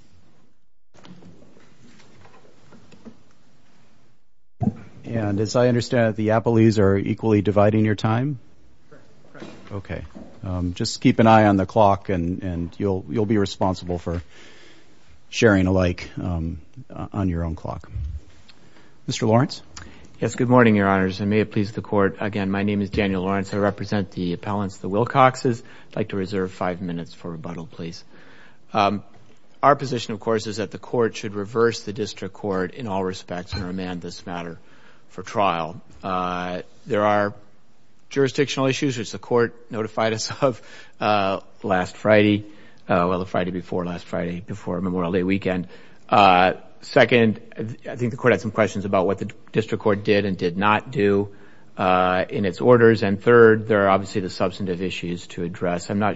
Good morning, Your Honors, and may it please the Court, again, my name is Daniel Lawrence. I represent the appellants, the Wilcoxes. I'd like to reserve five minutes for rebuttal, please. Our position, of course, is that the Court should reverse the District Court in all respects and remand this matter for trial. There are jurisdictional issues, which the Court notified us of last Friday, well, the Friday before, last Friday before Memorial Day weekend. Second, I think the Court had some questions about what the District Court did and did not do in its orders. And third, there are obviously the substantive issues to address. Why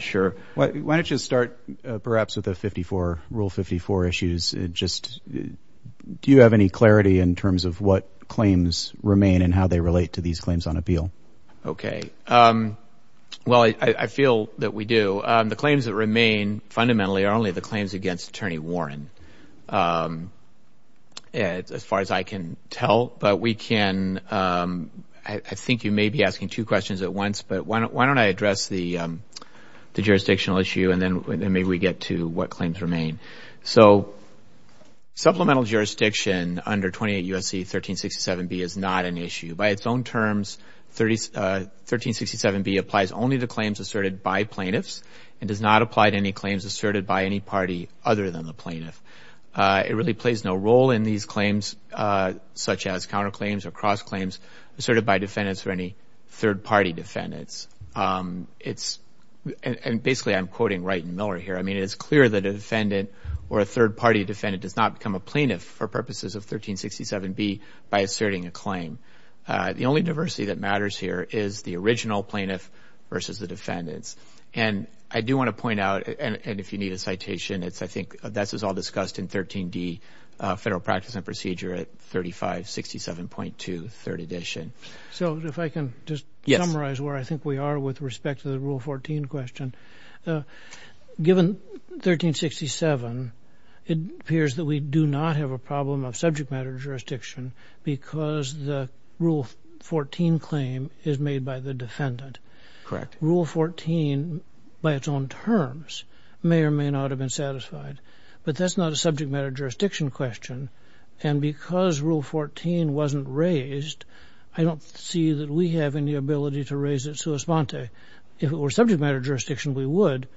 don't you start, perhaps, with Rule 54 issues? Do you have any clarity in terms of what claims remain and how they relate to these claims on appeal? Okay, well, I feel that we do. The claims that remain, fundamentally, are only the claims against Attorney Warren, as far as I can tell. But we can, I think you may be asking two questions at once, but why don't I address the jurisdictional issue and then maybe we get to what claims remain. So, supplemental jurisdiction under 28 U.S.C. 1367B is not an issue. By its own terms, 1367B applies only to claims asserted by plaintiffs and does not apply to any claims asserted by any party other than the plaintiff. It really plays no role in these claims, such as counterclaims or cross-claims, asserted by defendants or any third-party defendants. And basically, I'm quoting Wright and Miller here. I mean, it's clear that a defendant or a third-party defendant does not become a plaintiff for purposes of 1367B by asserting a claim. The only diversity that matters here is the original plaintiff versus the defendants. And I do want to point out, and if you need a citation, I think this is all discussed in 13D Federal Practice and Procedure at 3567.2, 3rd edition. So, if I can just summarize where I think we are with respect to the Rule 14 question. Given 1367, it appears that we do not have a problem of subject matter jurisdiction because the Rule 14 claim is made by the defendant. Correct. Rule 14, by its own terms, may or may not have been satisfied. But that's not a subject matter jurisdiction question. And because Rule 14 wasn't raised, I don't see that we have any ability to raise it sua sponte. If it were subject matter jurisdiction, we would.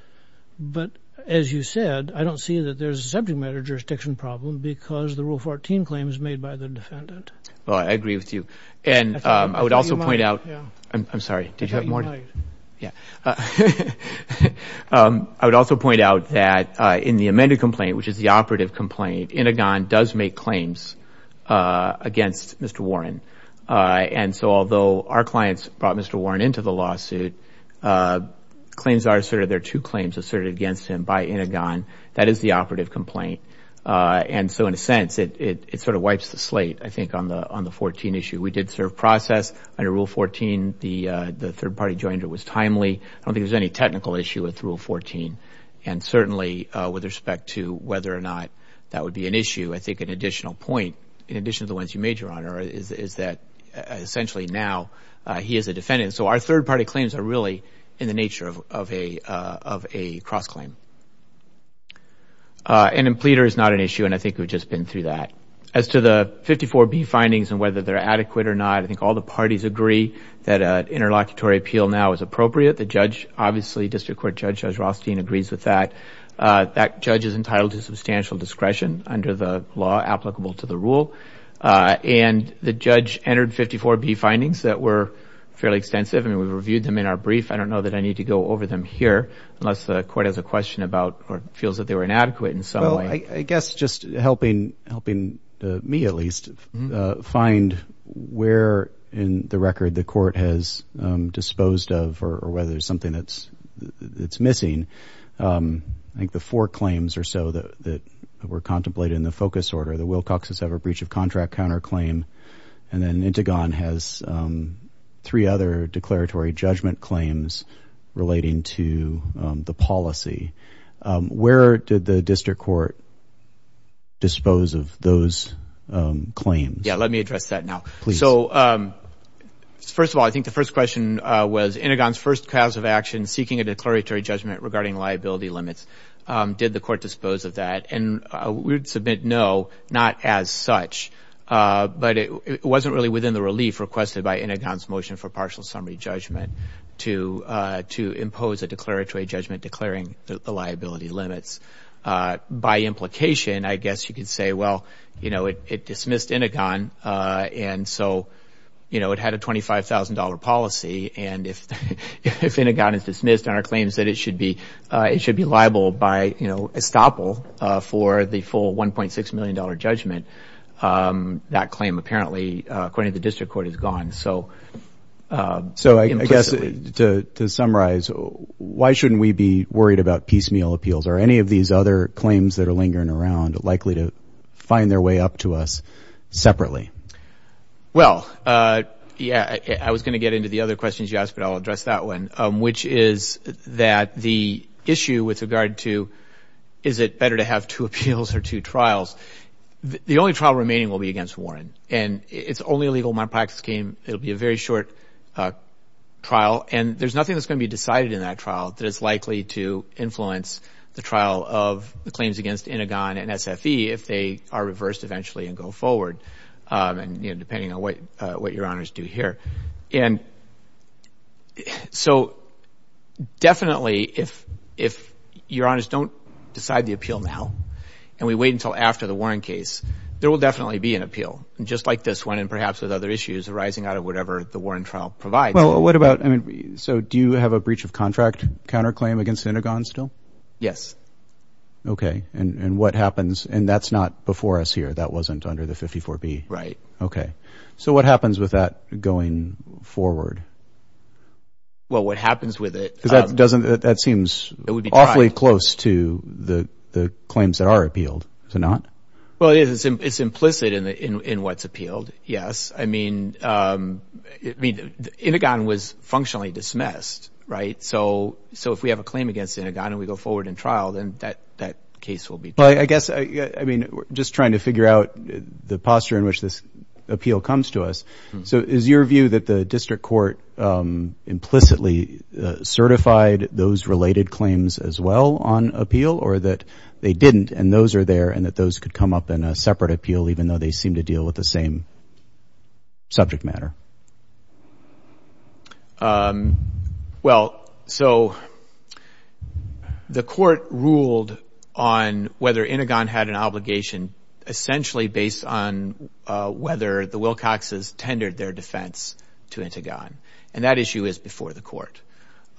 But, as you said, I don't see that there's a subject matter jurisdiction problem because the Rule 14 claim is made by the defendant. Well, I agree with you. And I would also point out... I'm sorry. Did you have more? Yeah. I would also point out that in the amended complaint, which is the operative complaint, Inigon does make claims against Mr. Warren. And so, although our clients brought Mr. Warren into the lawsuit, claims are asserted. There are two claims asserted against him by Inigon. That is the operative complaint. And so, in a sense, it sort of wipes the slate, I think, on the 14 issue. We did serve process under Rule 14. The third party joined. It was timely. I don't think there's any technical issue with Rule 14. And certainly, with respect to whether or not that would be an issue, I think an additional point, in addition to the ones you made, Your Honor, is that essentially now he is a defendant. So our third-party claims are really in the nature of a cross-claim. And a pleader is not an issue, and I think we've just been through that. As to the 54B findings and whether they're adequate or not, I think all the parties agree that an interlocutory appeal now is appropriate. The judge, obviously, District Court Judge Judge Rothstein, agrees with that. That judge is entitled to substantial discretion under the law applicable to the rule. And the judge entered 54B findings that were fairly extensive, and we reviewed them in our brief. I don't know that I need to go over them here unless the court has a question about or feels that they were inadequate in some way. I guess just helping me, at least, find where in the record the court has disposed of or whether there's something that's missing. I think the four claims or so that were contemplated in the focus order, the Wilcox's ever-breach-of-contract counterclaim, and then Intigon has three other declaratory judgment claims relating to the policy. Where did the district court dispose of those claims? Yeah, let me address that now. So, first of all, I think the first question was Intigon's first class of action, seeking a declaratory judgment regarding liability limits. Did the court dispose of that? And we would submit no, not as such. But it wasn't really within the relief requested by Intigon's motion for partial summary judgment to impose a declaratory judgment declaring the liability limits. By implication, I guess you could say, well, it dismissed Intigon, and so it had a $25,000 policy, and if Intigon is dismissed and our claim is that it should be liable by estoppel for the full $1.6 million judgment, that claim apparently, according to the district court, is gone. So I guess to summarize, why shouldn't we be worried about piecemeal appeals? Are any of these other claims that are lingering around likely to find their way up to us separately? Well, yeah, I was going to get into the other questions you asked, but I'll address that one, which is that the issue with regard to is it better to have two appeals or two trials, the only trial remaining will be against Warren, and it's only legal in my practice scheme. It will be a very short trial, and there's nothing that's going to be decided in that trial that is likely to influence the trial of the claims against Intigon and SFE if they are reversed eventually and go forward, depending on what your honors do here. And so definitely if your honors don't decide the appeal now and we wait until after the Warren case, there will definitely be an appeal, just like this one and perhaps with other issues arising out of whatever the Warren trial provides. Well, what about, I mean, so do you have a breach of contract counterclaim against Intigon still? Yes. Okay, and what happens, and that's not before us here. That wasn't under the 54B. Right. Okay. So what happens with that going forward? Well, what happens with it. Because that seems awfully close to the claims that are appealed. Is it not? Well, it is. It's implicit in what's appealed, yes. I mean, Intigon was functionally dismissed, right? So if we have a claim against Intigon and we go forward in trial, then that case will be. I guess, I mean, just trying to figure out the posture in which this appeal comes to us. So is your view that the district court implicitly certified those related claims as well on appeal or that they didn't and those are there and that those could come up in a separate appeal even though they seem to deal with the same subject matter? Well, so the court ruled on whether Intigon had an obligation essentially based on whether the Wilcoxes tendered their defense to Intigon, and that issue is before the court.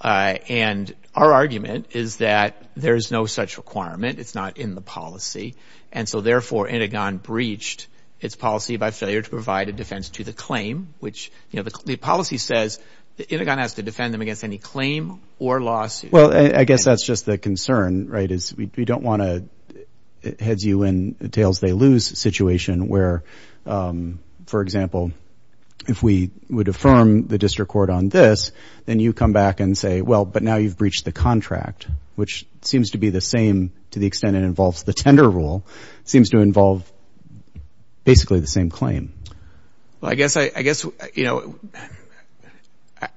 And our argument is that there is no such requirement. It's not in the policy. And so, therefore, Intigon breached its policy by failure to provide a defense to the claim, which the policy says that Intigon has to defend them against any claim or lawsuit. Well, I guess that's just the concern, right, is we don't want to head you in a tails-they-lose situation where, for example, if we would affirm the district court on this, then you come back and say, well, but now you've breached the contract, which seems to be the same to the extent it involves the tender rule. It seems to involve basically the same claim. Well, I guess, you know,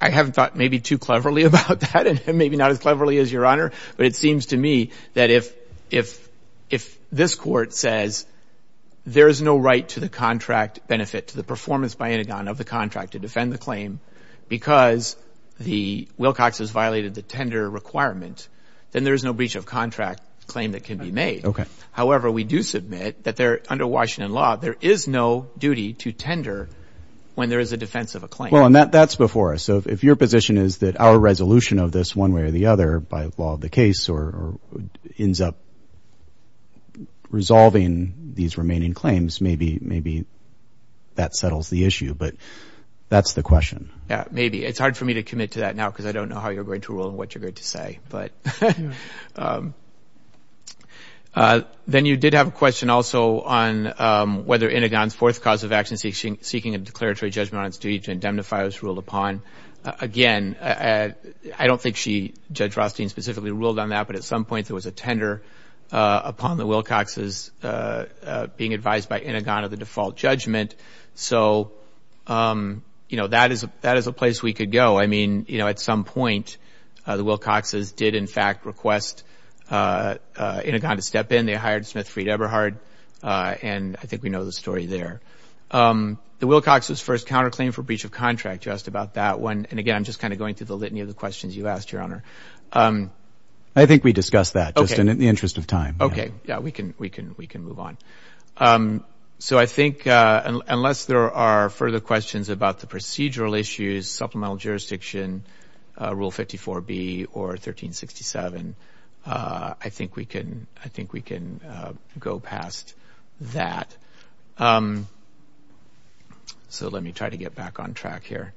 I haven't thought maybe too cleverly about that and maybe not as cleverly as Your Honor, but it seems to me that if this court says there is no right to the contract benefit, to the performance by Intigon of the contract to defend the claim because the Wilcoxes violated the tender requirement, then there is no breach of contract claim that can be made. However, we do submit that under Washington law, there is no duty to tender when there is a defense of a claim. Well, and that's before us. So if your position is that our resolution of this one way or the other by law of the case or ends up resolving these remaining claims, maybe that settles the issue. But that's the question. Yeah, maybe. It's hard for me to commit to that now because I don't know how you're going to rule and what you're going to say. Then you did have a question also on whether Intigon's fourth cause of action, seeking a declaratory judgment on its duty to indemnify was ruled upon. Again, I don't think Judge Rothstein specifically ruled on that, but at some point there was a tender upon the Wilcoxes being advised by Intigon of the default judgment. So, you know, that is a place we could go. I mean, you know, at some point the Wilcoxes did in fact request Intigon to step in. They hired Smith Freed Eberhard, and I think we know the story there. The Wilcoxes' first counterclaim for breach of contract, you asked about that one. And, again, I'm just kind of going through the litany of the questions you asked, Your Honor. I think we discussed that, Justin, in the interest of time. Okay. Yeah, we can move on. So I think unless there are further questions about the procedural issues, supplemental jurisdiction, Rule 54B or 1367, I think we can go past that. So let me try to get back on track here.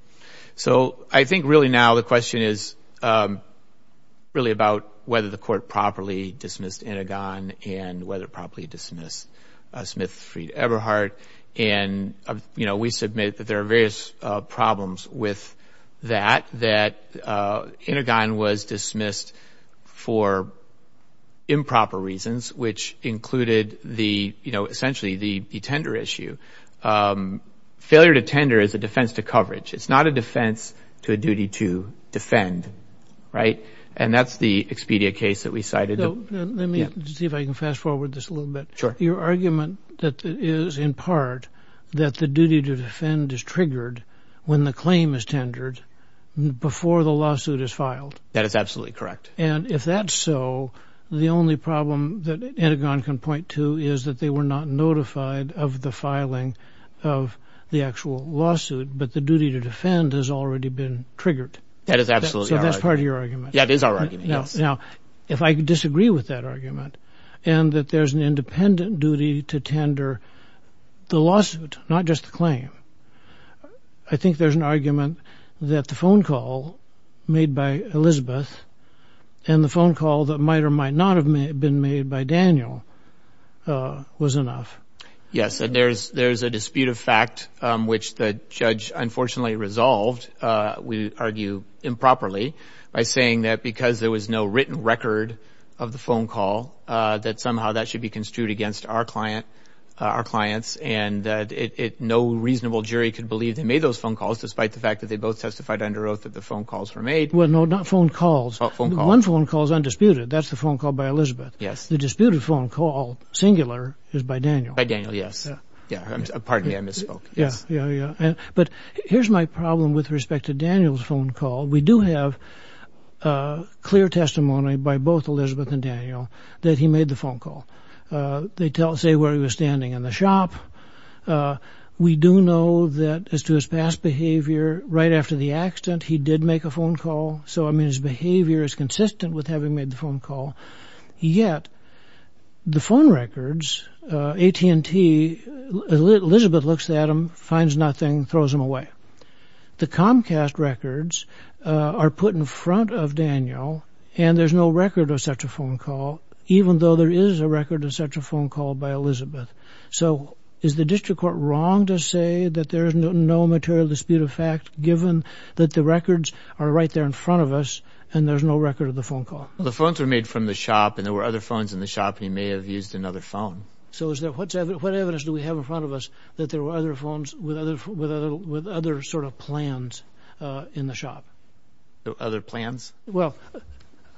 So I think really now the question is really about whether the Court properly dismissed Intigon and whether it properly dismissed Smith Freed Eberhard. And, you know, we submit that there are various problems with that, that Intigon was dismissed for improper reasons, which included the, you know, essentially the tender issue. Failure to tender is a defense to coverage. It's not a defense to a duty to defend, right? And that's the Expedia case that we cited. Let me see if I can fast forward this a little bit. Sure. Your argument is in part that the duty to defend is triggered when the claim is tendered before the lawsuit is filed. That is absolutely correct. And if that's so, the only problem that Intigon can point to is that they were not notified of the filing of the actual lawsuit, but the duty to defend has already been triggered. That is absolutely right. So that's part of your argument. That is our argument, yes. Now, if I disagree with that argument and that there's an independent duty to tender the lawsuit, not just the claim, I think there's an argument that the phone call made by Elizabeth and the phone call that might or might not have been made by Daniel was enough. Yes, and there's a dispute of fact, which the judge unfortunately resolved, we argue, improperly, by saying that because there was no written record of the phone call, that somehow that should be construed against our client, our clients, and that no reasonable jury could believe they made those phone calls, despite the fact that they both testified under oath that the phone calls were made. Well, no, not phone calls. Oh, phone calls. One phone call is undisputed. That's the phone call by Elizabeth. Yes. The disputed phone call, singular, is by Daniel. By Daniel, yes. Yeah. Pardon me, I misspoke. Yeah, yeah, yeah. But here's my problem with respect to Daniel's phone call. We do have clear testimony by both Elizabeth and Daniel that he made the phone call. They say where he was standing in the shop. We do know that as to his past behavior, right after the accident, he did make a phone call. So, I mean, his behavior is consistent with having made the phone call. Yet the phone records, AT&T, Elizabeth looks at them, finds nothing, throws them away. The Comcast records are put in front of Daniel, and there's no record of such a phone call, even though there is a record of such a phone call by Elizabeth. So, is the district court wrong to say that there is no material dispute of fact, given that the records are right there in front of us, and there's no record of the phone call? Well, the phones were made from the shop, and there were other phones in the shop, and he may have used another phone. So, what evidence do we have in front of us that there were other phones with other sort of plans in the shop? Other plans? Well,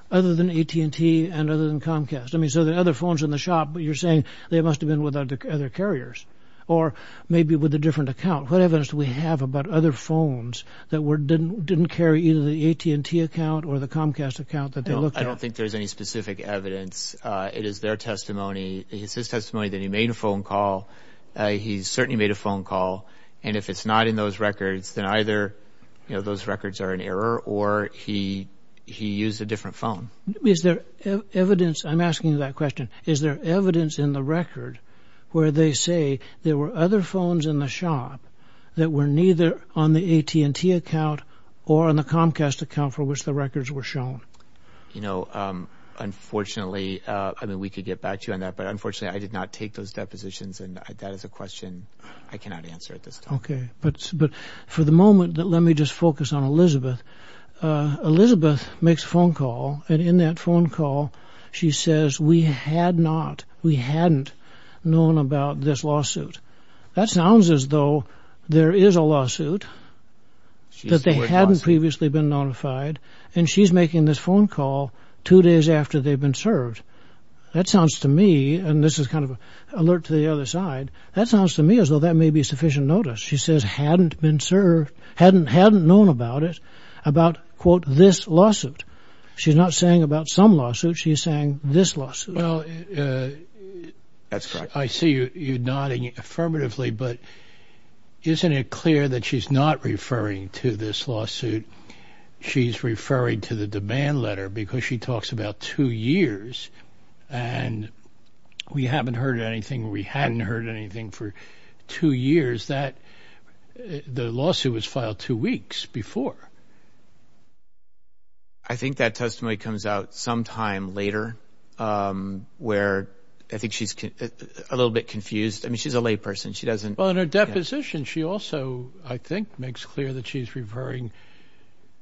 other than AT&T and other than Comcast. I mean, so there are other phones in the shop, but you're saying they must have been with other carriers, or maybe with a different account. What evidence do we have about other phones that didn't carry either the AT&T account or the Comcast account that they looked at? I don't think there's any specific evidence. It is their testimony. It's his testimony that he made a phone call. He certainly made a phone call, and if it's not in those records, then either those records are in error, or he used a different phone. Is there evidence? I'm asking you that question. Is there evidence in the record where they say there were other phones in the shop that were neither on the AT&T account or on the Comcast account for which the records were shown? You know, unfortunately, I mean, we could get back to you on that, but unfortunately, I did not take those depositions, and that is a question I cannot answer at this time. Okay, but for the moment, let me just focus on Elizabeth. Elizabeth makes a phone call, and in that phone call, she says, we had not, we hadn't known about this lawsuit. That sounds as though there is a lawsuit that they hadn't previously been notified, and she's making this phone call two days after they've been served. That sounds to me, and this is kind of an alert to the other side, that sounds to me as though that may be sufficient notice. She says hadn't been served, hadn't known about it, about, quote, this lawsuit. She's not saying about some lawsuits. She's saying this lawsuit. Well, I see you nodding affirmatively, but isn't it clear that she's not referring to this lawsuit? She's referring to the demand letter because she talks about two years, and we haven't heard anything, or we hadn't heard anything for two years, that the lawsuit was filed two weeks before. I think that testimony comes out sometime later where I think she's a little bit confused. I mean, she's a layperson. She doesn't. Well, in her deposition, she also, I think, makes clear that she's referring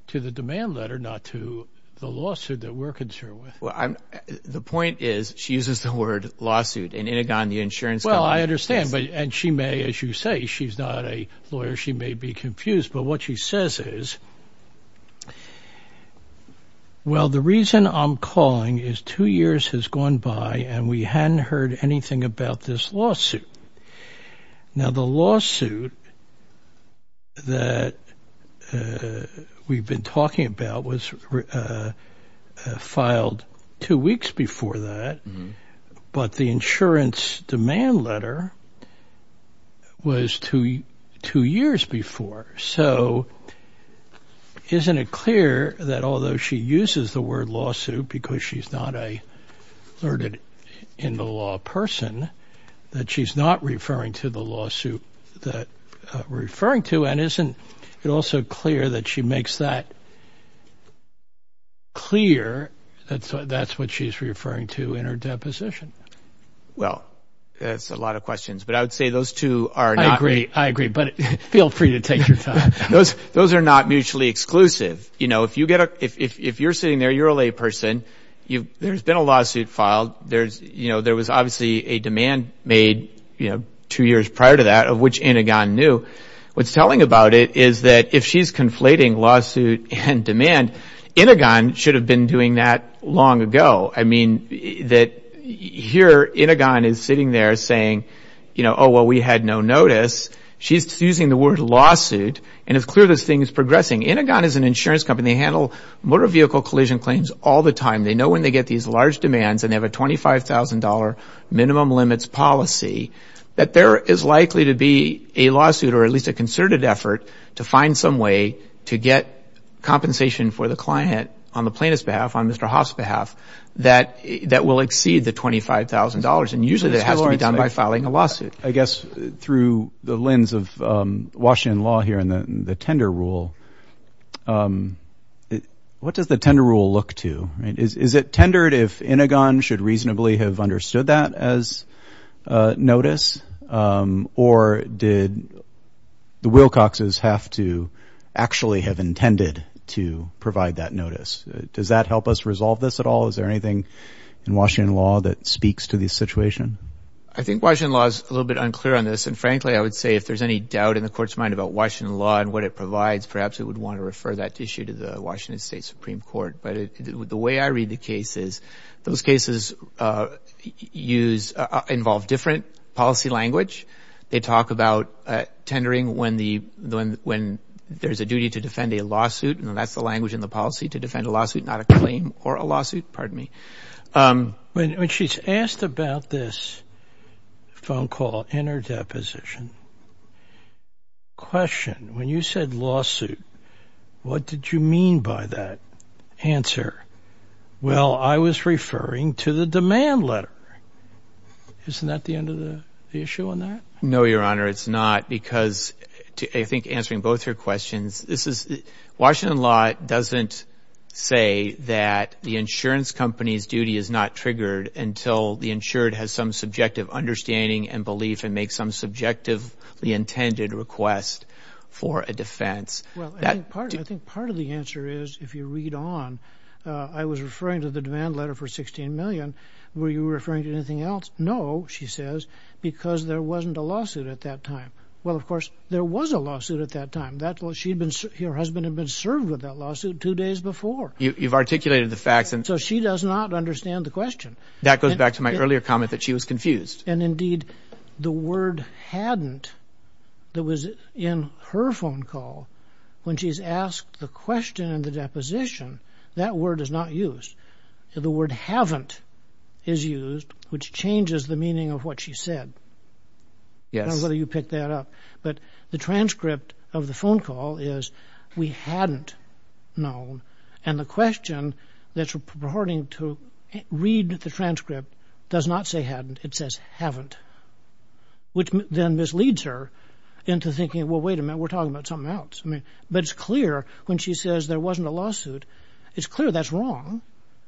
to the demand letter, not to the lawsuit that we're concerned with. The point is she uses the word lawsuit. Well, I understand, and she may, as you say, she's not a lawyer. She may be confused, but what she says is, well, the reason I'm calling is two years has gone by, and we hadn't heard anything about this lawsuit. Now, the lawsuit that we've been talking about was filed two weeks before that, but the insurance demand letter was two years before. So isn't it clear that although she uses the word lawsuit because she's not an alerted-in-the-law person, that she's not referring to the lawsuit that we're referring to, and isn't it also clear that she makes that clear that that's what she's referring to in her deposition? Well, that's a lot of questions, but I would say those two are not. I agree, I agree, but feel free to take your time. Those are not mutually exclusive. You know, if you're sitting there, you're a layperson. There's been a lawsuit filed. There was obviously a demand made, you know, two years prior to that of which Enneaghan knew. What's telling about it is that if she's conflating lawsuit and demand, Enneaghan should have been doing that long ago. I mean, that here Enneaghan is sitting there saying, you know, oh, well, we had no notice. She's using the word lawsuit, and it's clear this thing is progressing. Enneaghan is an insurance company. They handle motor vehicle collision claims all the time. They know when they get these large demands, and they have a $25,000 minimum limits policy, that there is likely to be a lawsuit or at least a concerted effort to find some way to get compensation for the client on the plaintiff's behalf, on Mr. Hoff's behalf, that will exceed the $25,000. And usually that has to be done by filing a lawsuit. I guess through the lens of Washington law here and the tender rule, what does the tender rule look to? Is it tendered if Enneaghan should reasonably have understood that as notice, or did the Wilcoxes have to actually have intended to provide that notice? Does that help us resolve this at all? Is there anything in Washington law that speaks to this situation? I think Washington law is a little bit unclear on this. And frankly, I would say if there's any doubt in the court's mind about Washington law and what it provides, perhaps it would want to refer that issue to the Washington State Supreme Court. But the way I read the case is those cases involve different policy language. They talk about tendering when there's a duty to defend a lawsuit, and that's the language in the policy, to defend a lawsuit, not a claim or a lawsuit. Pardon me. When she's asked about this phone call in her deposition, question, when you said lawsuit, what did you mean by that answer? Well, I was referring to the demand letter. Isn't that the end of the issue on that? No, Your Honor, it's not, because I think answering both your questions, Washington law doesn't say that the insurance company's duty is not triggered until the insured has some subjective understanding and belief and makes some subjectively intended request for a defense. Well, I think part of the answer is, if you read on, I was referring to the demand letter for $16 million. Were you referring to anything else? No, she says, because there wasn't a lawsuit at that time. Well, of course, there was a lawsuit at that time. Your husband had been served with that lawsuit two days before. You've articulated the facts. So she does not understand the question. That goes back to my earlier comment that she was confused. And, indeed, the word hadn't that was in her phone call, when she's asked the question in the deposition, that word is not used. The word haven't is used, which changes the meaning of what she said. I don't know whether you picked that up. But the transcript of the phone call is, we hadn't known. And the question that's reporting to read the transcript does not say hadn't. It says haven't, which then misleads her into thinking, well, wait a minute, we're talking about something else. But it's clear when she says there wasn't a lawsuit, it's clear that's wrong.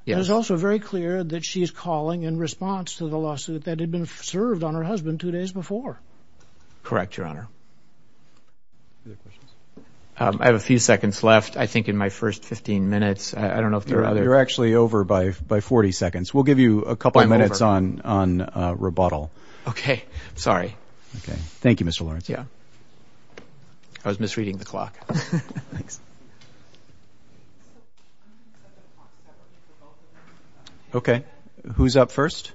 It is also very clear that she is calling in response to the lawsuit that had been served on her husband two days before. Correct, Your Honor. I have a few seconds left, I think, in my first 15 minutes. I don't know if there are others. You're actually over by 40 seconds. We'll give you a couple of minutes on rebuttal. Sorry. Okay. Thank you, Mr. Lawrence. Yeah. I was misreading the clock. Thanks. Okay. Who's up first?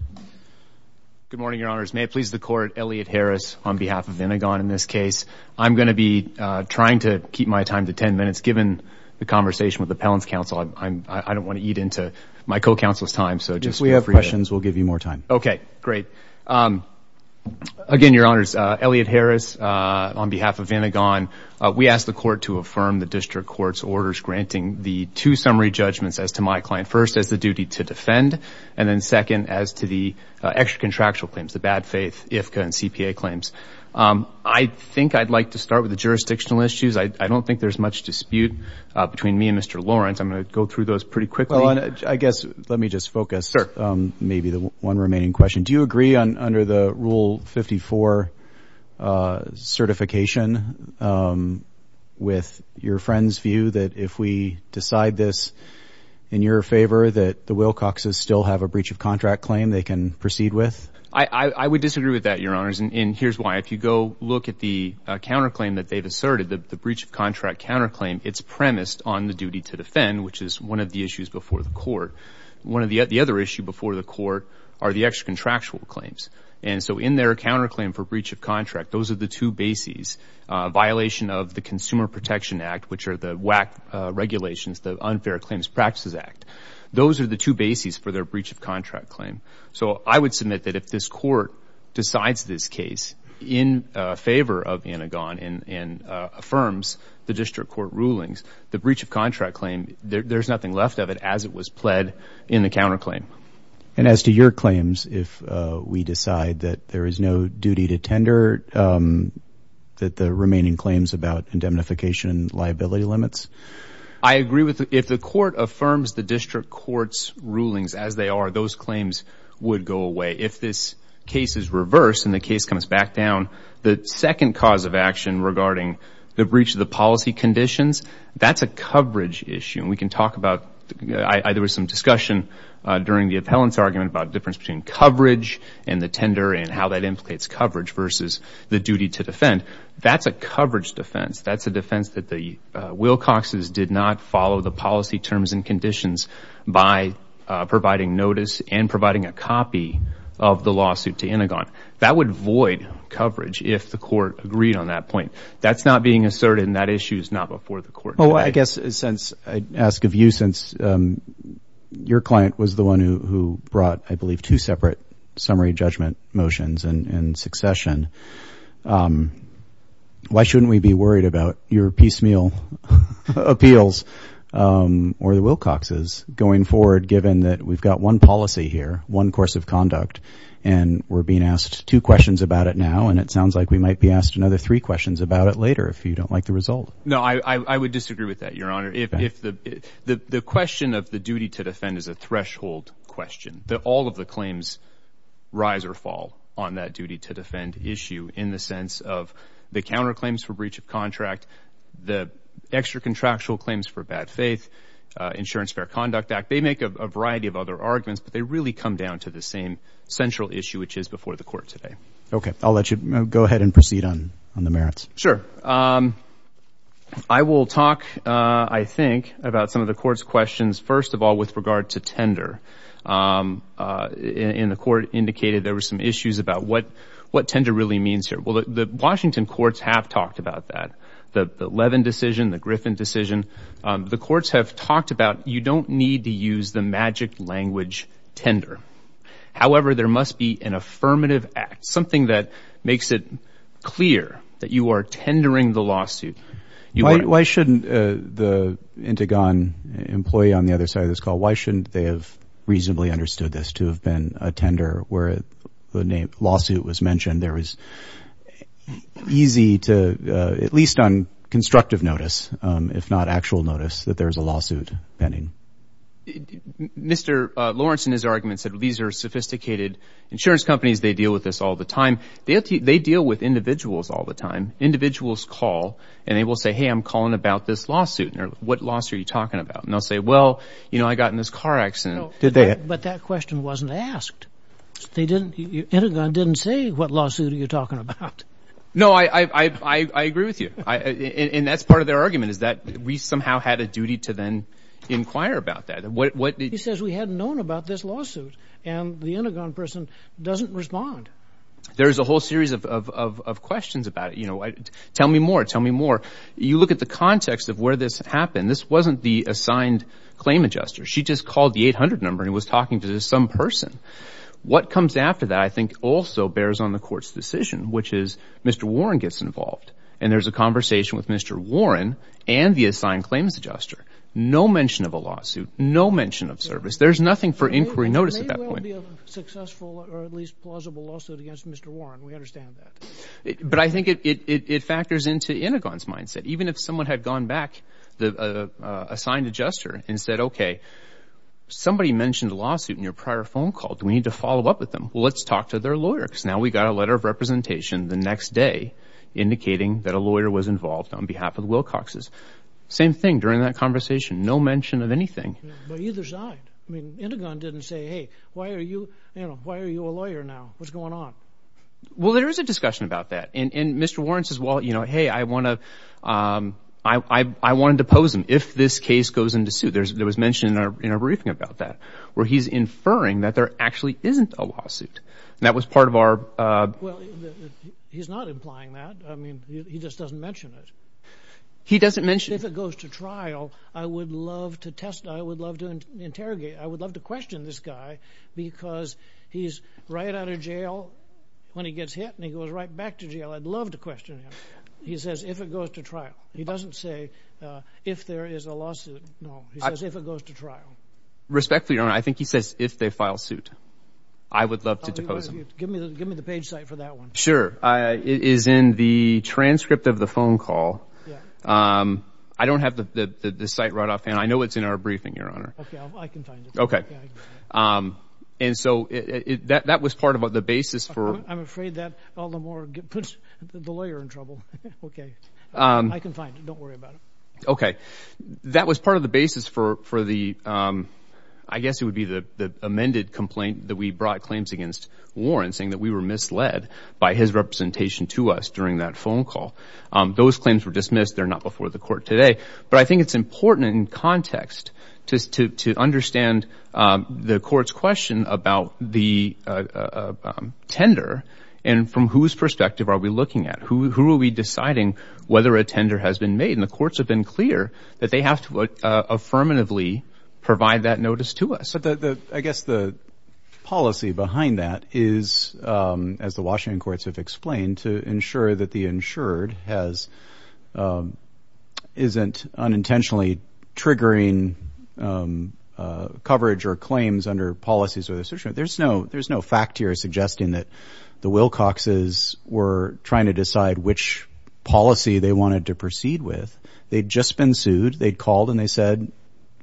Good morning, Your Honors. May it please the Court, Elliot Harris on behalf of Vinegon in this case. I'm going to be trying to keep my time to 10 minutes. Given the conversation with the Appellant's Counsel, I don't want to eat into my co-counsel's time. If we have questions, we'll give you more time. Okay. Great. Again, Your Honors, Elliot Harris on behalf of Vinegon. We ask the Court to affirm the District Court's orders granting the two summary judgments as to my client. First, as the duty to defend, and then second, as to the extra contractual claims, the bad faith, IFCA, and CPA claims. I think I'd like to start with the jurisdictional issues. I don't think there's much dispute between me and Mr. Lawrence. I'm going to go through those pretty quickly. I guess let me just focus maybe the one remaining question. Do you agree under the Rule 54 certification with your friend's view that if we decide this in your favor, that the Wilcoxes still have a breach of contract claim they can proceed with? I would disagree with that, Your Honors, and here's why. If you go look at the counterclaim that they've asserted, the breach of contract counterclaim, it's premised on the duty to defend, which is one of the issues before the Court. The other issue before the Court are the extra contractual claims, and so in their counterclaim for breach of contract, those are the two bases. Violation of the Consumer Protection Act, which are the WAC regulations, the Unfair Claims Practices Act, those are the two bases for their breach of contract claim. So I would submit that if this Court decides this case in favor of Anagon and affirms the District Court rulings, the breach of contract claim, there's nothing left of it as it was pled in the counterclaim. And as to your claims, if we decide that there is no duty to tender, that the remaining claims about indemnification and liability limits? I agree with if the Court affirms the District Court's rulings as they are, those claims would go away. If this case is reversed and the case comes back down, the second cause of action regarding the breach of the policy conditions, that's a coverage issue. And we can talk about, there was some discussion during the appellant's argument about the difference between coverage and the tender and how that implicates coverage versus the duty to defend. That's a coverage defense. That's a defense that the Wilcoxes did not follow the policy terms and conditions by providing notice and providing a copy of the lawsuit to Anagon. That would void coverage if the Court agreed on that point. That's not being asserted, and that issue is not before the Court. Well, I guess since I ask of you, since your client was the one who brought, I believe, two separate summary judgment motions in succession, why shouldn't we be worried about your piecemeal appeals or the Wilcox's going forward, given that we've got one policy here, one course of conduct, and we're being asked two questions about it now, and it sounds like we might be asked another three questions about it later if you don't like the result. No, I would disagree with that, Your Honor. The question of the duty to defend is a threshold question. All of the claims rise or fall on that duty to defend issue in the sense of the counterclaims for breach of contract, the extra-contractual claims for bad faith, Insurance Fair Conduct Act. They make a variety of other arguments, but they really come down to the same central issue, which is before the Court today. Okay. I'll let you go ahead and proceed on the merits. Sure. I will talk, I think, about some of the Court's questions. First of all, with regard to tender, and the Court indicated there were some issues about what tender really means here. Well, the Washington courts have talked about that, the Levin decision, the Griffin decision. The courts have talked about you don't need to use the magic language tender. However, there must be an affirmative act, something that makes it clear that you are tendering the lawsuit. Why shouldn't the Intigon employee on the other side of this call, why shouldn't they have reasonably understood this to have been a tender where the name lawsuit was mentioned? There was easy to, at least on constructive notice, if not actual notice, that there is a lawsuit pending. Mr. Lawrence, in his argument, said these are sophisticated insurance companies. They deal with this all the time. They deal with individuals all the time. Individuals call, and they will say, hey, I'm calling about this lawsuit. What lawsuit are you talking about? And they'll say, well, you know, I got in this car accident. But that question wasn't asked. Intigon didn't say what lawsuit are you talking about. No, I agree with you. And that's part of their argument is that we somehow had a duty to then inquire about that. He says we hadn't known about this lawsuit, and the Intigon person doesn't respond. There's a whole series of questions about it. You know, tell me more, tell me more. You look at the context of where this happened. This wasn't the assigned claim adjuster. She just called the 800 number and was talking to some person. What comes after that I think also bears on the court's decision, which is Mr. Warren gets involved, and there's a conversation with Mr. Warren and the assigned claims adjuster. No mention of a lawsuit, no mention of service. There's nothing for inquiry notice at that point. It could be a successful or at least plausible lawsuit against Mr. Warren. We understand that. But I think it factors into Intigon's mindset. Even if someone had gone back, the assigned adjuster, and said, okay, somebody mentioned a lawsuit in your prior phone call. Do we need to follow up with them? Well, let's talk to their lawyer because now we've got a letter of representation the next day indicating that a lawyer was involved on behalf of the Wilcoxes. Same thing during that conversation, no mention of anything. But either side. I mean, Intigon didn't say, hey, why are you a lawyer now? What's going on? Well, there is a discussion about that. And Mr. Warren says, well, hey, I want to depose him if this case goes into suit. There was mention in our briefing about that where he's inferring that there actually isn't a lawsuit. That was part of our— Well, he's not implying that. I mean, he just doesn't mention it. He doesn't mention it. I would love to interrogate. I would love to question this guy because he's right out of jail when he gets hit, and he goes right back to jail. I'd love to question him. He says if it goes to trial. He doesn't say if there is a lawsuit. No, he says if it goes to trial. Respectfully, Your Honor, I think he says if they file suit. I would love to depose him. Give me the page site for that one. Sure. It is in the transcript of the phone call. I don't have the site right off hand. I know it's in our briefing, Your Honor. Okay, I can find it. And so that was part of the basis for— I'm afraid that all the more puts the lawyer in trouble. Okay. I can find it. Don't worry about it. Okay. That was part of the basis for the—I guess it would be the amended complaint that we brought claims against Warren saying that we were misled by his representation to us during that phone call. Those claims were dismissed. They're not before the court today. But I think it's important in context to understand the court's question about the tender and from whose perspective are we looking at. Who are we deciding whether a tender has been made? And the courts have been clear that they have to affirmatively provide that notice to us. But I guess the policy behind that is, as the Washington courts have explained, to ensure that the insured isn't unintentionally triggering coverage or claims under policies. There's no fact here suggesting that the Wilcoxes were trying to decide which policy they wanted to proceed with. They'd just been sued. They'd called and they said,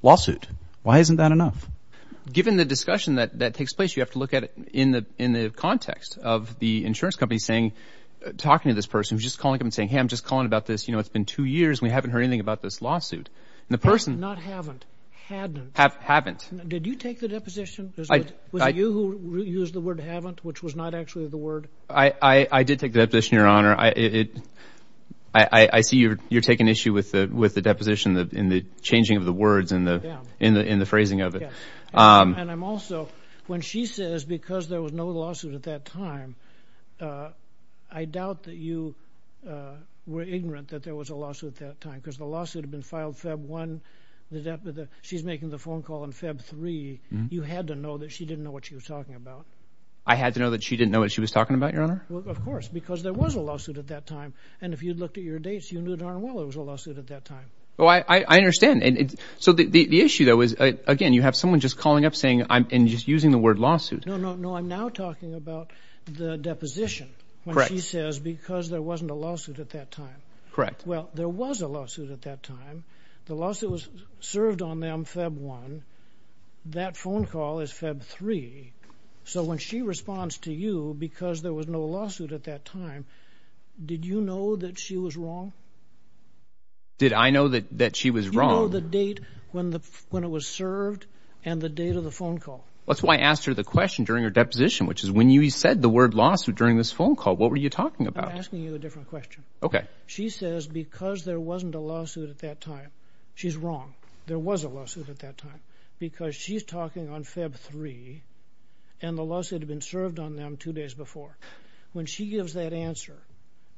Lawsuit. Why isn't that enough? Given the discussion that takes place, you have to look at it in the context of the insurance company talking to this person who's just calling up and saying, Hey, I'm just calling about this. You know, it's been two years. We haven't heard anything about this lawsuit. Not haven't. Hadn't. Haven't. Did you take the deposition? Was it you who used the word haven't, which was not actually the word? I did take the deposition, Your Honor. I see you're taking issue with the deposition in the changing of the words in the phrasing of it. And I'm also, when she says because there was no lawsuit at that time, I doubt that you were ignorant that there was a lawsuit at that time. Because the lawsuit had been filed Feb. 1. She's making the phone call on Feb. 3. You had to know that she didn't know what she was talking about. I had to know that she didn't know what she was talking about, Your Honor? Well, of course, because there was a lawsuit at that time. And if you'd looked at your dates, you knew darn well there was a lawsuit at that time. Oh, I understand. So the issue, though, is, again, you have someone just calling up saying I'm just using the word lawsuit. No, no, no. I'm now talking about the deposition. Correct. When she says because there wasn't a lawsuit at that time. Correct. Well, there was a lawsuit at that time. The lawsuit was served on them Feb. 1. That phone call is Feb. 3. So when she responds to you because there was no lawsuit at that time, did you know that she was wrong? Did I know that she was wrong? You know the date when it was served and the date of the phone call. That's why I asked her the question during her deposition, which is when you said the word lawsuit during this phone call, what were you talking about? I'm asking you a different question. Okay. She says because there wasn't a lawsuit at that time. She's wrong. There was a lawsuit at that time. Because she's talking on Feb. 3 and the lawsuit had been served on them two days before. When she gives that answer,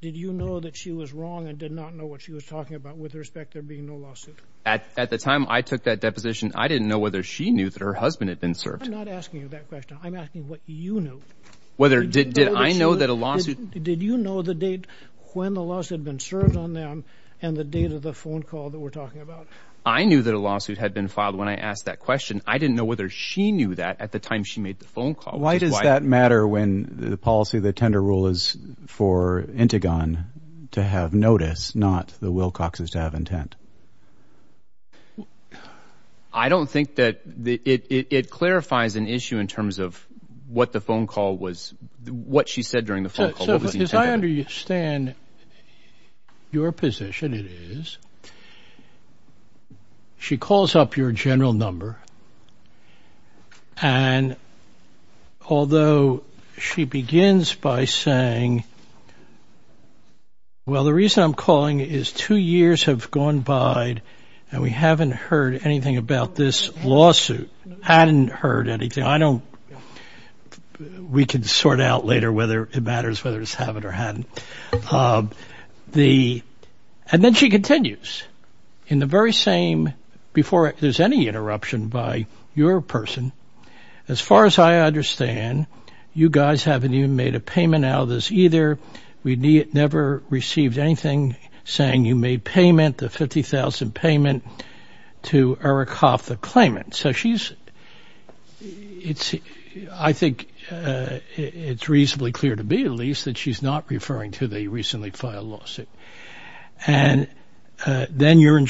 did you know that she was wrong and did not know what she was talking about with respect to there being no lawsuit? At the time I took that deposition, I didn't know whether she knew that her husband had been served. I'm not asking you that question. I'm asking what you knew. Did I know that a lawsuit? Did you know the date when the lawsuit had been served on them and the date of the phone call that we're talking about? I knew that a lawsuit had been filed when I asked that question. I didn't know whether she knew that at the time she made the phone call. Why does that matter when the policy of the tender rule is for Intigon to have notice, not the Wilcoxes to have intent? I don't think that it clarifies an issue in terms of what the phone call was, what she said during the phone call. As I understand your position, it is she calls up your general number and although she begins by saying, well, the reason I'm calling is two years have gone by and we haven't heard anything about this lawsuit. I hadn't heard anything. We can sort out later whether it matters whether it's happened or hadn't. And then she continues in the very same before there's any interruption by your person. As far as I understand, you guys haven't even made a payment out of this either. We never received anything saying you made payment, the 50,000 payment to Eric Hoffman claimant. So she's, I think it's reasonably clear to me at least that she's not referring to the recently filed lawsuit. And then your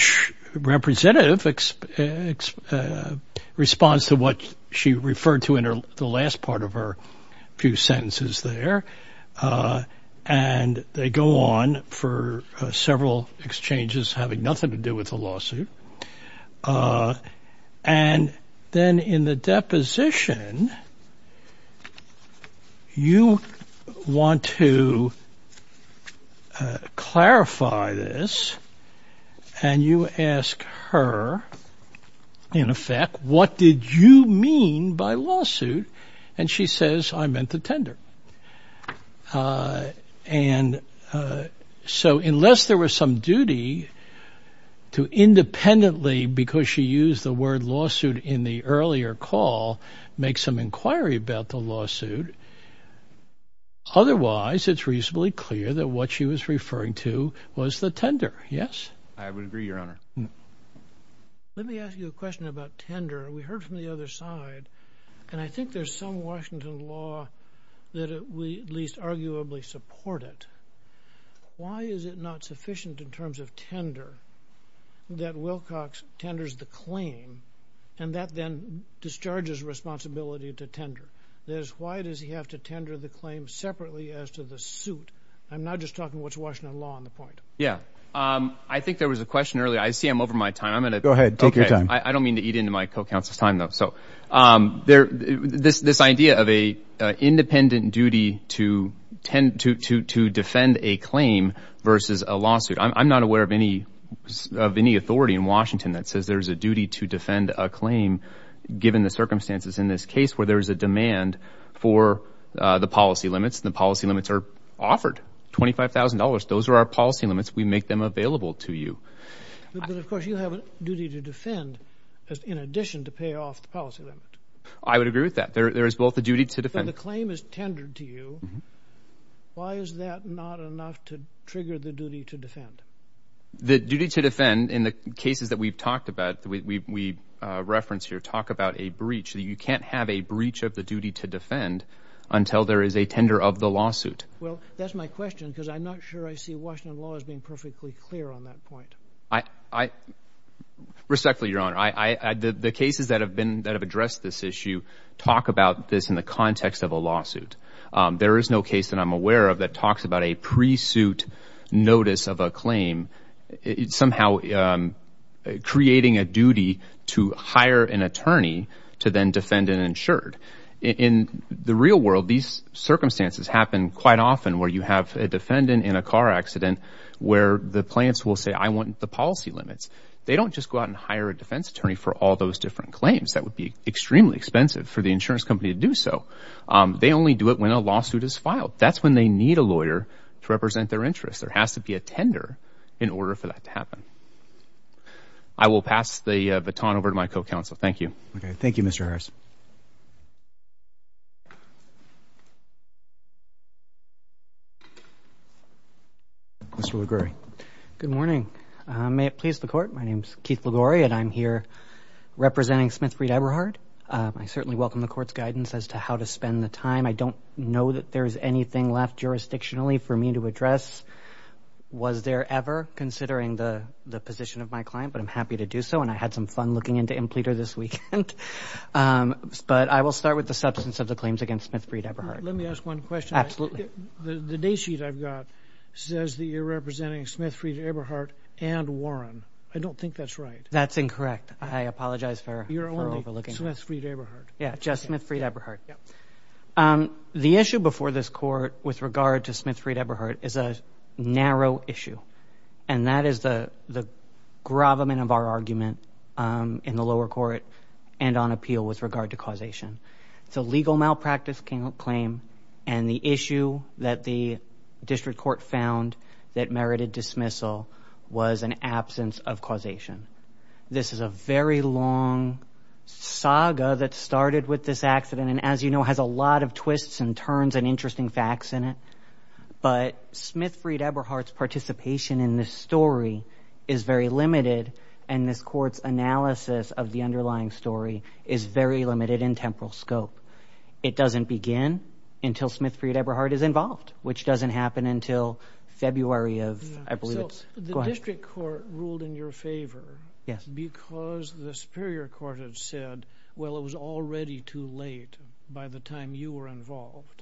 representative responds to what she referred to in the last part of her few sentences there. And they go on for several exchanges having nothing to do with the lawsuit. And then in the deposition, you want to clarify this. And you ask her, in effect, what did you mean by lawsuit? And she says, I meant the tender. And so unless there was some duty to independently because she used the word lawsuit in the earlier call, make some inquiry about the lawsuit. Otherwise, it's reasonably clear that what she was referring to was the tender. Yes. I would agree, Your Honor. Let me ask you a question about tender. We heard from the other side, and I think there's some Washington law that we at least arguably support it. Why is it not sufficient in terms of tender that Wilcox tenders the claim and that then discharges responsibility to tender? Why does he have to tender the claim separately as to the suit? I'm not just talking what's Washington law on the point. Yeah. I think there was a question earlier. I see I'm over my time. Go ahead. Take your time. I don't mean to eat into my co-counsel's time, though. So this idea of an independent duty to defend a claim versus a lawsuit. I'm not aware of any authority in Washington that says there's a duty to defend a claim given the circumstances in this case where there is a demand for the policy limits. The policy limits are offered, $25,000. Those are our policy limits. We make them available to you. But, of course, you have a duty to defend in addition to pay off the policy limit. I would agree with that. There is both a duty to defend. So the claim is tendered to you. Why is that not enough to trigger the duty to defend? The duty to defend in the cases that we've talked about, we reference here, talk about a breach. You can't have a breach of the duty to defend until there is a tender of the lawsuit. Well, that's my question because I'm not sure I see Washington law as being perfectly clear on that point. Respectfully, Your Honor, the cases that have addressed this issue talk about this in the context of a lawsuit. There is no case that I'm aware of that talks about a pre-suit notice of a claim somehow creating a duty to hire an attorney to then defend an insured. In the real world, these circumstances happen quite often where you have a defendant in a car accident where the plaintiffs will say, I want the policy limits. They don't just go out and hire a defense attorney for all those different claims. That would be extremely expensive for the insurance company to do so. They only do it when a lawsuit is filed. That's when they need a lawyer to represent their interests. There has to be a tender in order for that to happen. I will pass the baton over to my co-counsel. Thank you. Okay. Thank you, Mr. Harris. Mr. LaGore. Good morning. May it please the Court, my name is Keith LaGore and I'm here representing Smith Reed Eberhard. I certainly welcome the Court's guidance as to how to spend the time. I don't know that there is anything left jurisdictionally for me to address. Was there ever considering the position of my client? But I'm happy to do so and I had some fun looking into Impleter this weekend. But I will start with the substance of the claims against Smith Reed Eberhard. Let me ask one question. The day sheet I've got says that you're representing Smith Reed Eberhard and Warren. I don't think that's right. That's incorrect. I apologize for overlooking that. You're only Smith Reed Eberhard. Yeah, just Smith Reed Eberhard. Yeah. The issue before this Court with regard to Smith Reed Eberhard is a narrow issue. And that is the gravamen of our argument in the lower court and on appeal with regard to causation. It's a legal malpractice claim and the issue that the district court found that merited dismissal was an absence of causation. This is a very long saga that started with this accident. And as you know, it has a lot of twists and turns and interesting facts in it. But Smith Reed Eberhard's participation in this story is very limited. And this Court's analysis of the underlying story is very limited in temporal scope. It doesn't begin until Smith Reed Eberhard is involved, which doesn't happen until February of—I believe it's—go ahead. The district court ruled in your favor because the superior court had said, well, it was already too late by the time you were involved.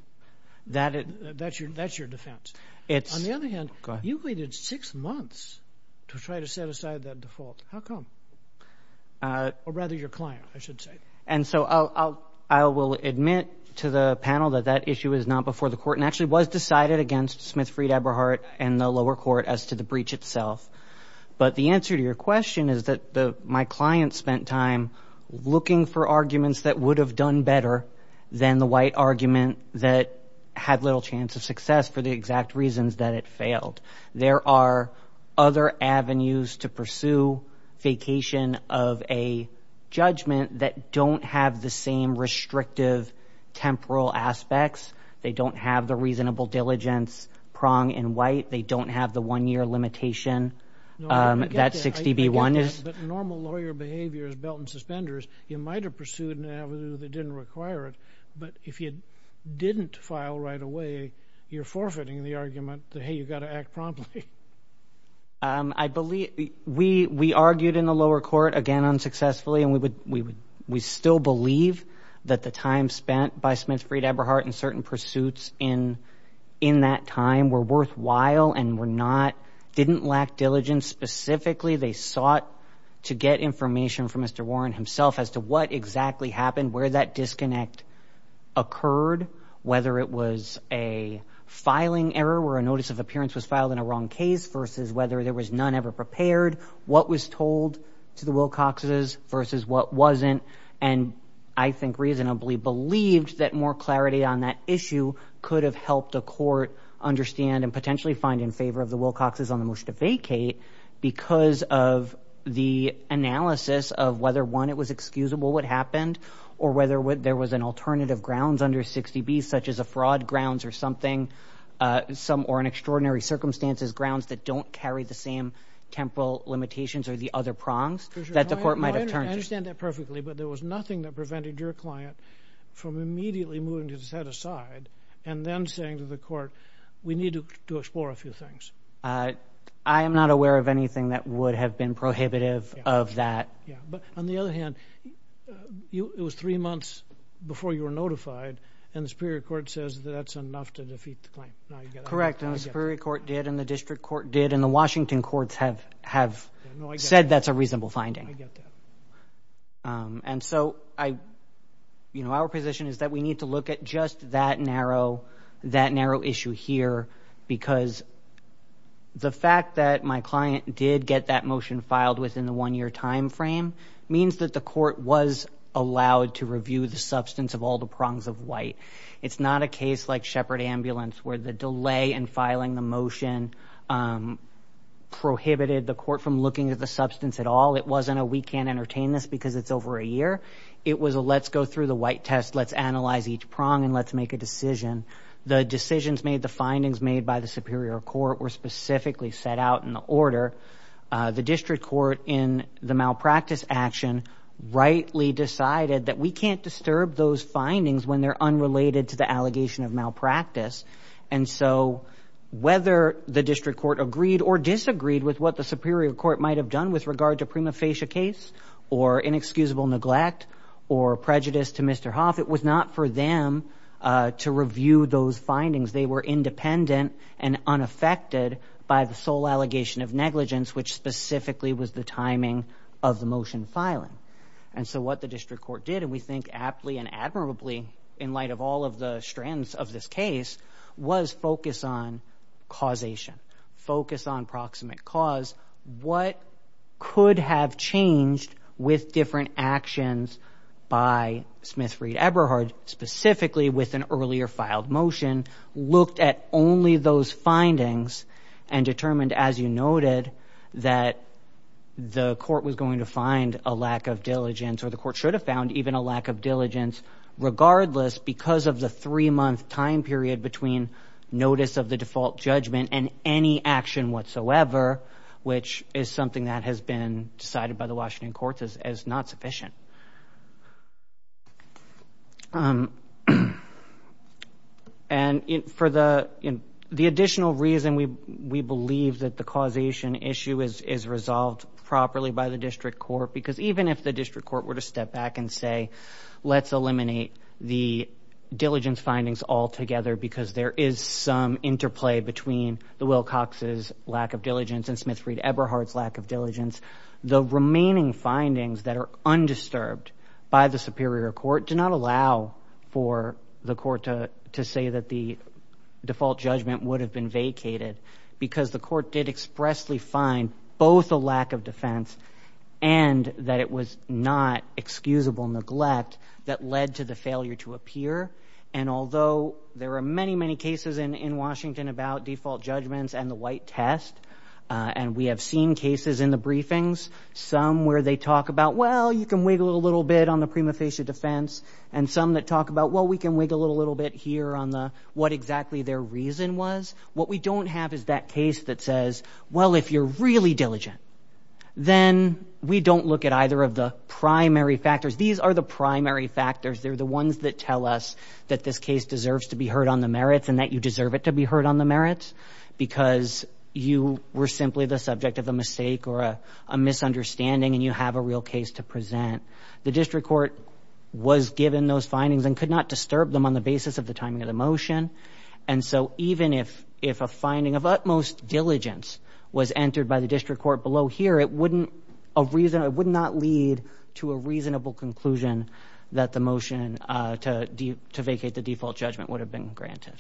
That's your defense. On the other hand, you waited six months to try to set aside that default. How come? Or rather your client, I should say. And so I will admit to the panel that that issue is not before the court and actually was decided against Smith Reed Eberhard and the lower court as to the breach itself. But the answer to your question is that my client spent time looking for arguments that would have done better than the white argument that had little chance of success for the exact reasons that it failed. There are other avenues to pursue vacation of a judgment that don't have the same restrictive temporal aspects. They don't have the reasonable diligence prong in white. They don't have the one-year limitation that 60B1 is. But normal lawyer behavior is belt and suspenders. You might have pursued an avenue that didn't require it. But if you didn't file right away, you're forfeiting the argument that, hey, you've got to act promptly. I believe we argued in the lower court, again, unsuccessfully, and we still believe that the time spent by Smith Reed Eberhard in certain pursuits in that time were worthwhile and didn't lack diligence. Specifically, they sought to get information from Mr. Warren himself as to what exactly happened, where that disconnect occurred, whether it was a filing error where a notice of appearance was filed in a wrong case versus whether there was none ever prepared, what was told to the Wilcoxes versus what wasn't. And I think reasonably believed that more clarity on that issue could have helped a court understand and potentially find in favor of the Wilcoxes on the motion to vacate because of the analysis of whether, one, it was excusable what happened or whether there was an alternative grounds under 60B, such as a fraud grounds or something, or in extraordinary circumstances, grounds that don't carry the same temporal limitations or the other prongs that the court might have turned to. I understand that perfectly, but there was nothing that prevented your client from immediately moving his head aside and then saying to the court, we need to explore a few things. I am not aware of anything that would have been prohibitive of that. Yeah, but on the other hand, it was three months before you were notified and the Superior Court says that that's enough to defeat the claim. Correct, and the Superior Court did, and the District Court did, and the Washington courts have said that's a reasonable finding. I get that. And so our position is that we need to look at just that narrow issue here because the fact that my client did get that motion filed within the one-year time frame means that the court was allowed to review the substance of all the prongs of white. It's not a case like Shepard Ambulance where the delay in filing the motion prohibited the court from looking at the substance at all. It wasn't a we can't entertain this because it's over a year. It was a let's go through the white test, let's analyze each prong, and let's make a decision. The decisions made, the findings made by the Superior Court were specifically set out in the order. The District Court in the malpractice action rightly decided that we can't disturb those findings when they're unrelated to the allegation of malpractice. And so whether the District Court agreed or disagreed with what the Superior Court might have done with regard to prima facie case or inexcusable neglect or prejudice to Mr. Hoff, it was not for them to review those findings. They were independent and unaffected by the sole allegation of negligence, which specifically was the timing of the motion filing. And so what the District Court did, and we think aptly and admirably in light of all of the strands of this case, was focus on causation, focus on proximate cause. What could have changed with different actions by Smith, Reed, Eberhard, specifically with an earlier filed motion, looked at only those findings and determined, as you noted, that the court was going to find a lack of diligence, or the court should have found even a lack of diligence, regardless because of the three-month time period between notice of the default judgment and any action whatsoever, which is something that has been decided by the Washington courts as not sufficient. And for the additional reason we believe that the causation issue is resolved properly by the District Court, because even if the District Court were to step back and say, let's eliminate the diligence findings altogether because there is some interplay between the Wilcox's lack of diligence and Smith, Reed, Eberhard's lack of diligence, the remaining findings that are undisturbed by the Superior Court do not allow for the court to say that the default judgment would have been vacated because the court did expressly find both a lack of defense and that it was not excusable neglect that led to the failure to appear. And although there are many, many cases in Washington about default judgments and the white test, and we have seen cases in the briefings, some where they talk about, well, you can wiggle a little bit on the prima facie defense, and some that talk about, well, we can wiggle a little bit here on what exactly their reason was. What we don't have is that case that says, well, if you're really diligent, then we don't look at either of the primary factors. These are the primary factors. They're the ones that tell us that this case deserves to be heard on the merits and that you deserve it to be heard on the merits because you were simply the subject of a mistake or a misunderstanding and you have a real case to present. The District Court was given those findings and could not disturb them on the basis of the timing of the motion. And so even if a finding of utmost diligence was entered by the District Court below here, it would not lead to a reasonable conclusion that the motion to vacate the default judgment would have been granted.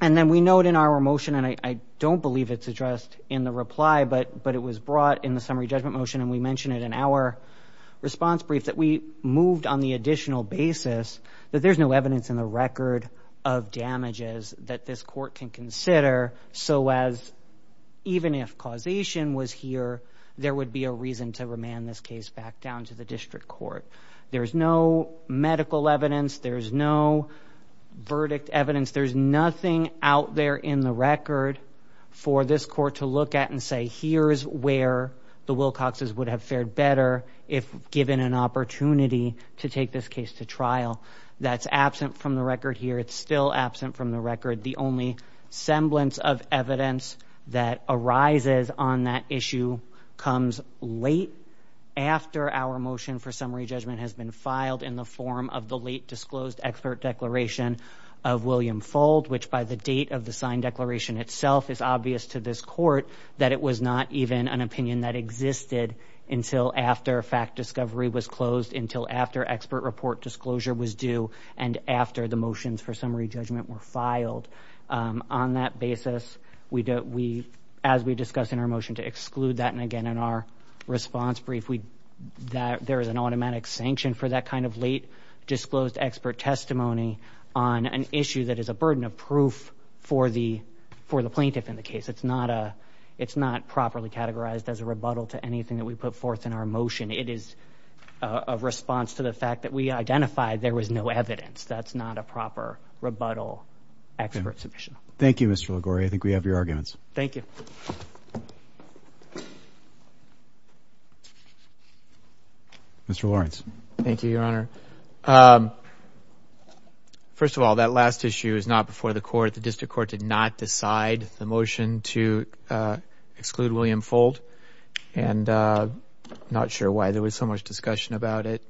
And then we note in our motion, and I don't believe it's addressed in the reply, but it was brought in the summary judgment motion, and we mention it in our response brief, that we moved on the additional basis that there's no evidence in the record of damages that this court can consider so as even if causation was here, there would be a reason to remand this case back down to the District Court. There's no medical evidence. There's no verdict evidence. There's nothing out there in the record for this court to look at and say, here's where the Wilcoxes would have fared better if given an opportunity to take this case to trial. That's absent from the record here. It's still absent from the record. The only semblance of evidence that arises on that issue comes late after our motion for summary judgment has been filed in the form of the late disclosed expert declaration of William Fold, which by the date of the signed declaration itself is obvious to this court that it was not even an opinion that existed until after fact discovery was closed, until after expert report disclosure was due, and after the motions for summary judgment were filed. On that basis, as we discuss in our motion to exclude that, and again in our response brief, there is an automatic sanction for that kind of late disclosed expert testimony on an issue that is a burden of proof for the plaintiff in the case. It's not properly categorized as a rebuttal to anything that we put forth in our motion. It is a response to the fact that we identified there was no evidence. That's not a proper rebuttal expert submission. Thank you, Mr. Liguori. I think we have your arguments. Thank you. Mr. Lawrence. Thank you, Your Honor. First of all, that last issue is not before the court. The district court did not decide the motion to exclude William Fold, and I'm not sure why there was so much discussion about it.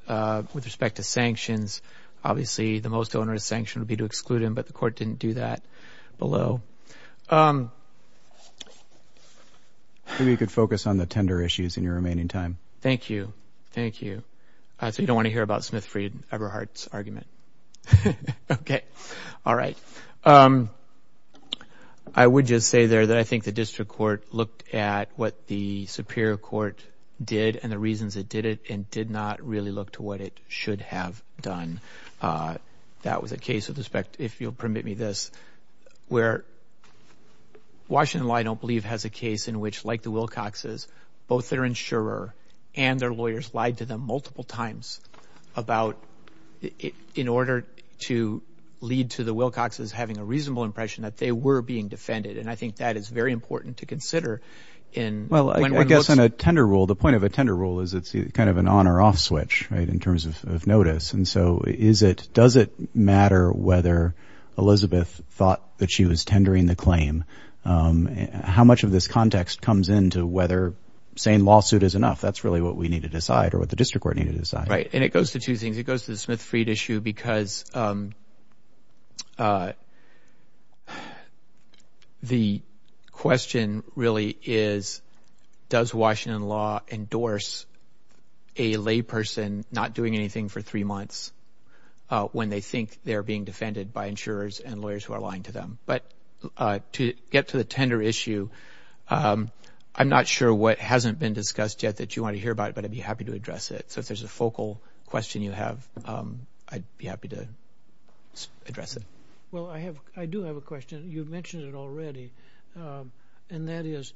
With respect to sanctions, obviously the most onerous sanction would be to exclude him, but the court didn't do that below. Thank you. Maybe you could focus on the tender issues in your remaining time. Thank you. Thank you. So you don't want to hear about Smith, Freed, Eberhardt's argument. Okay. All right. I would just say there that I think the district court looked at what the superior court did and the reasons it did it and did not really look to what it should have done. That was a case of respect, if you'll permit me this, where Washington, I don't believe, has a case in which, like the Wilcox's, both their insurer and their lawyers lied to them multiple times about in order to lead to the Wilcox's having a reasonable impression that they were being defended, and I think that is very important to consider. Well, I guess on a tender rule, the point of a tender rule is it's kind of an on or off switch in terms of notice, and so does it matter whether Elizabeth thought that she was tendering the claim? How much of this context comes into whether saying lawsuit is enough? That's really what we need to decide or what the district court needed to decide. Right, and it goes to two things. It goes to the Smith, Freed issue because the question really is does Washington law endorse a lay person not doing anything for three months when they think they're being defended by insurers and lawyers who are lying to them? But to get to the tender issue, I'm not sure what hasn't been discussed yet that you want to hear about, but I'd be happy to address it. So if there's a focal question you have, I'd be happy to address it. Well, I do have a question. You mentioned it already, and that is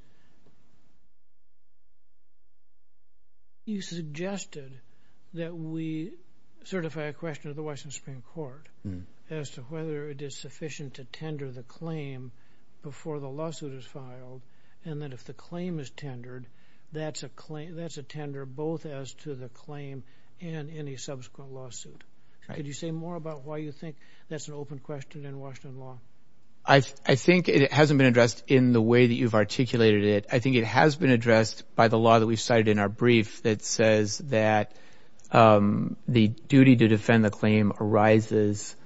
you suggested that we certify a question to the Washington Supreme Court as to whether it is sufficient to tender the claim before the lawsuit is filed, and that if the claim is tendered, that's a tender both as to the claim and any subsequent lawsuit. Could you say more about why you think that's an open question in Washington law? I think it hasn't been addressed in the way that you've articulated it. I think it has been addressed by the law that we've cited in our brief that says that the duty to defend the claim arises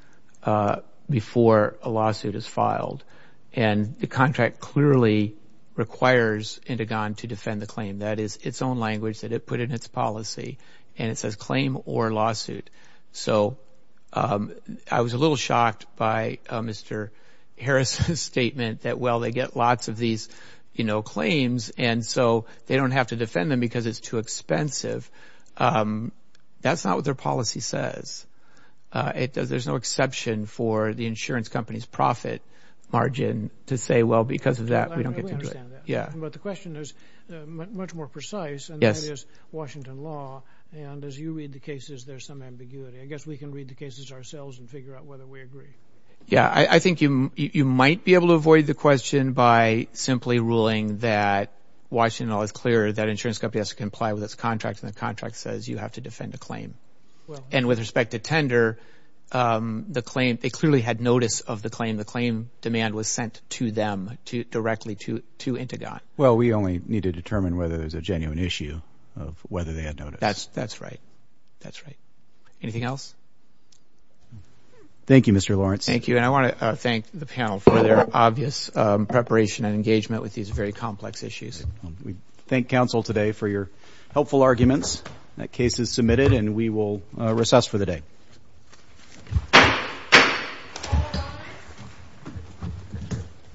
before a lawsuit is filed, and the contract clearly requires Indigon to defend the claim. That is its own language that it put in its policy, and it says claim or lawsuit. So I was a little shocked by Mr. Harris's statement that, well, they get lots of these claims, and so they don't have to defend them because it's too expensive. That's not what their policy says. There's no exception for the insurance company's profit margin to say, well, because of that, we don't get to do it. We understand that, but the question is much more precise, and that is Washington law. And as you read the cases, there's some ambiguity. I guess we can read the cases ourselves and figure out whether we agree. Yeah, I think you might be able to avoid the question by simply ruling that Washington law is clear, that insurance company has to comply with its contract, and the contract says you have to defend a claim. And with respect to tender, they clearly had notice of the claim. The claim demand was sent to them directly to Indigon. Well, we only need to determine whether there's a genuine issue of whether they had notice. That's right. That's right. Anything else? Thank you, Mr. Lawrence. Thank you. And I want to thank the panel for their obvious preparation and engagement with these very complex issues. We thank counsel today for your helpful arguments. That case is submitted, and we will recess for the day.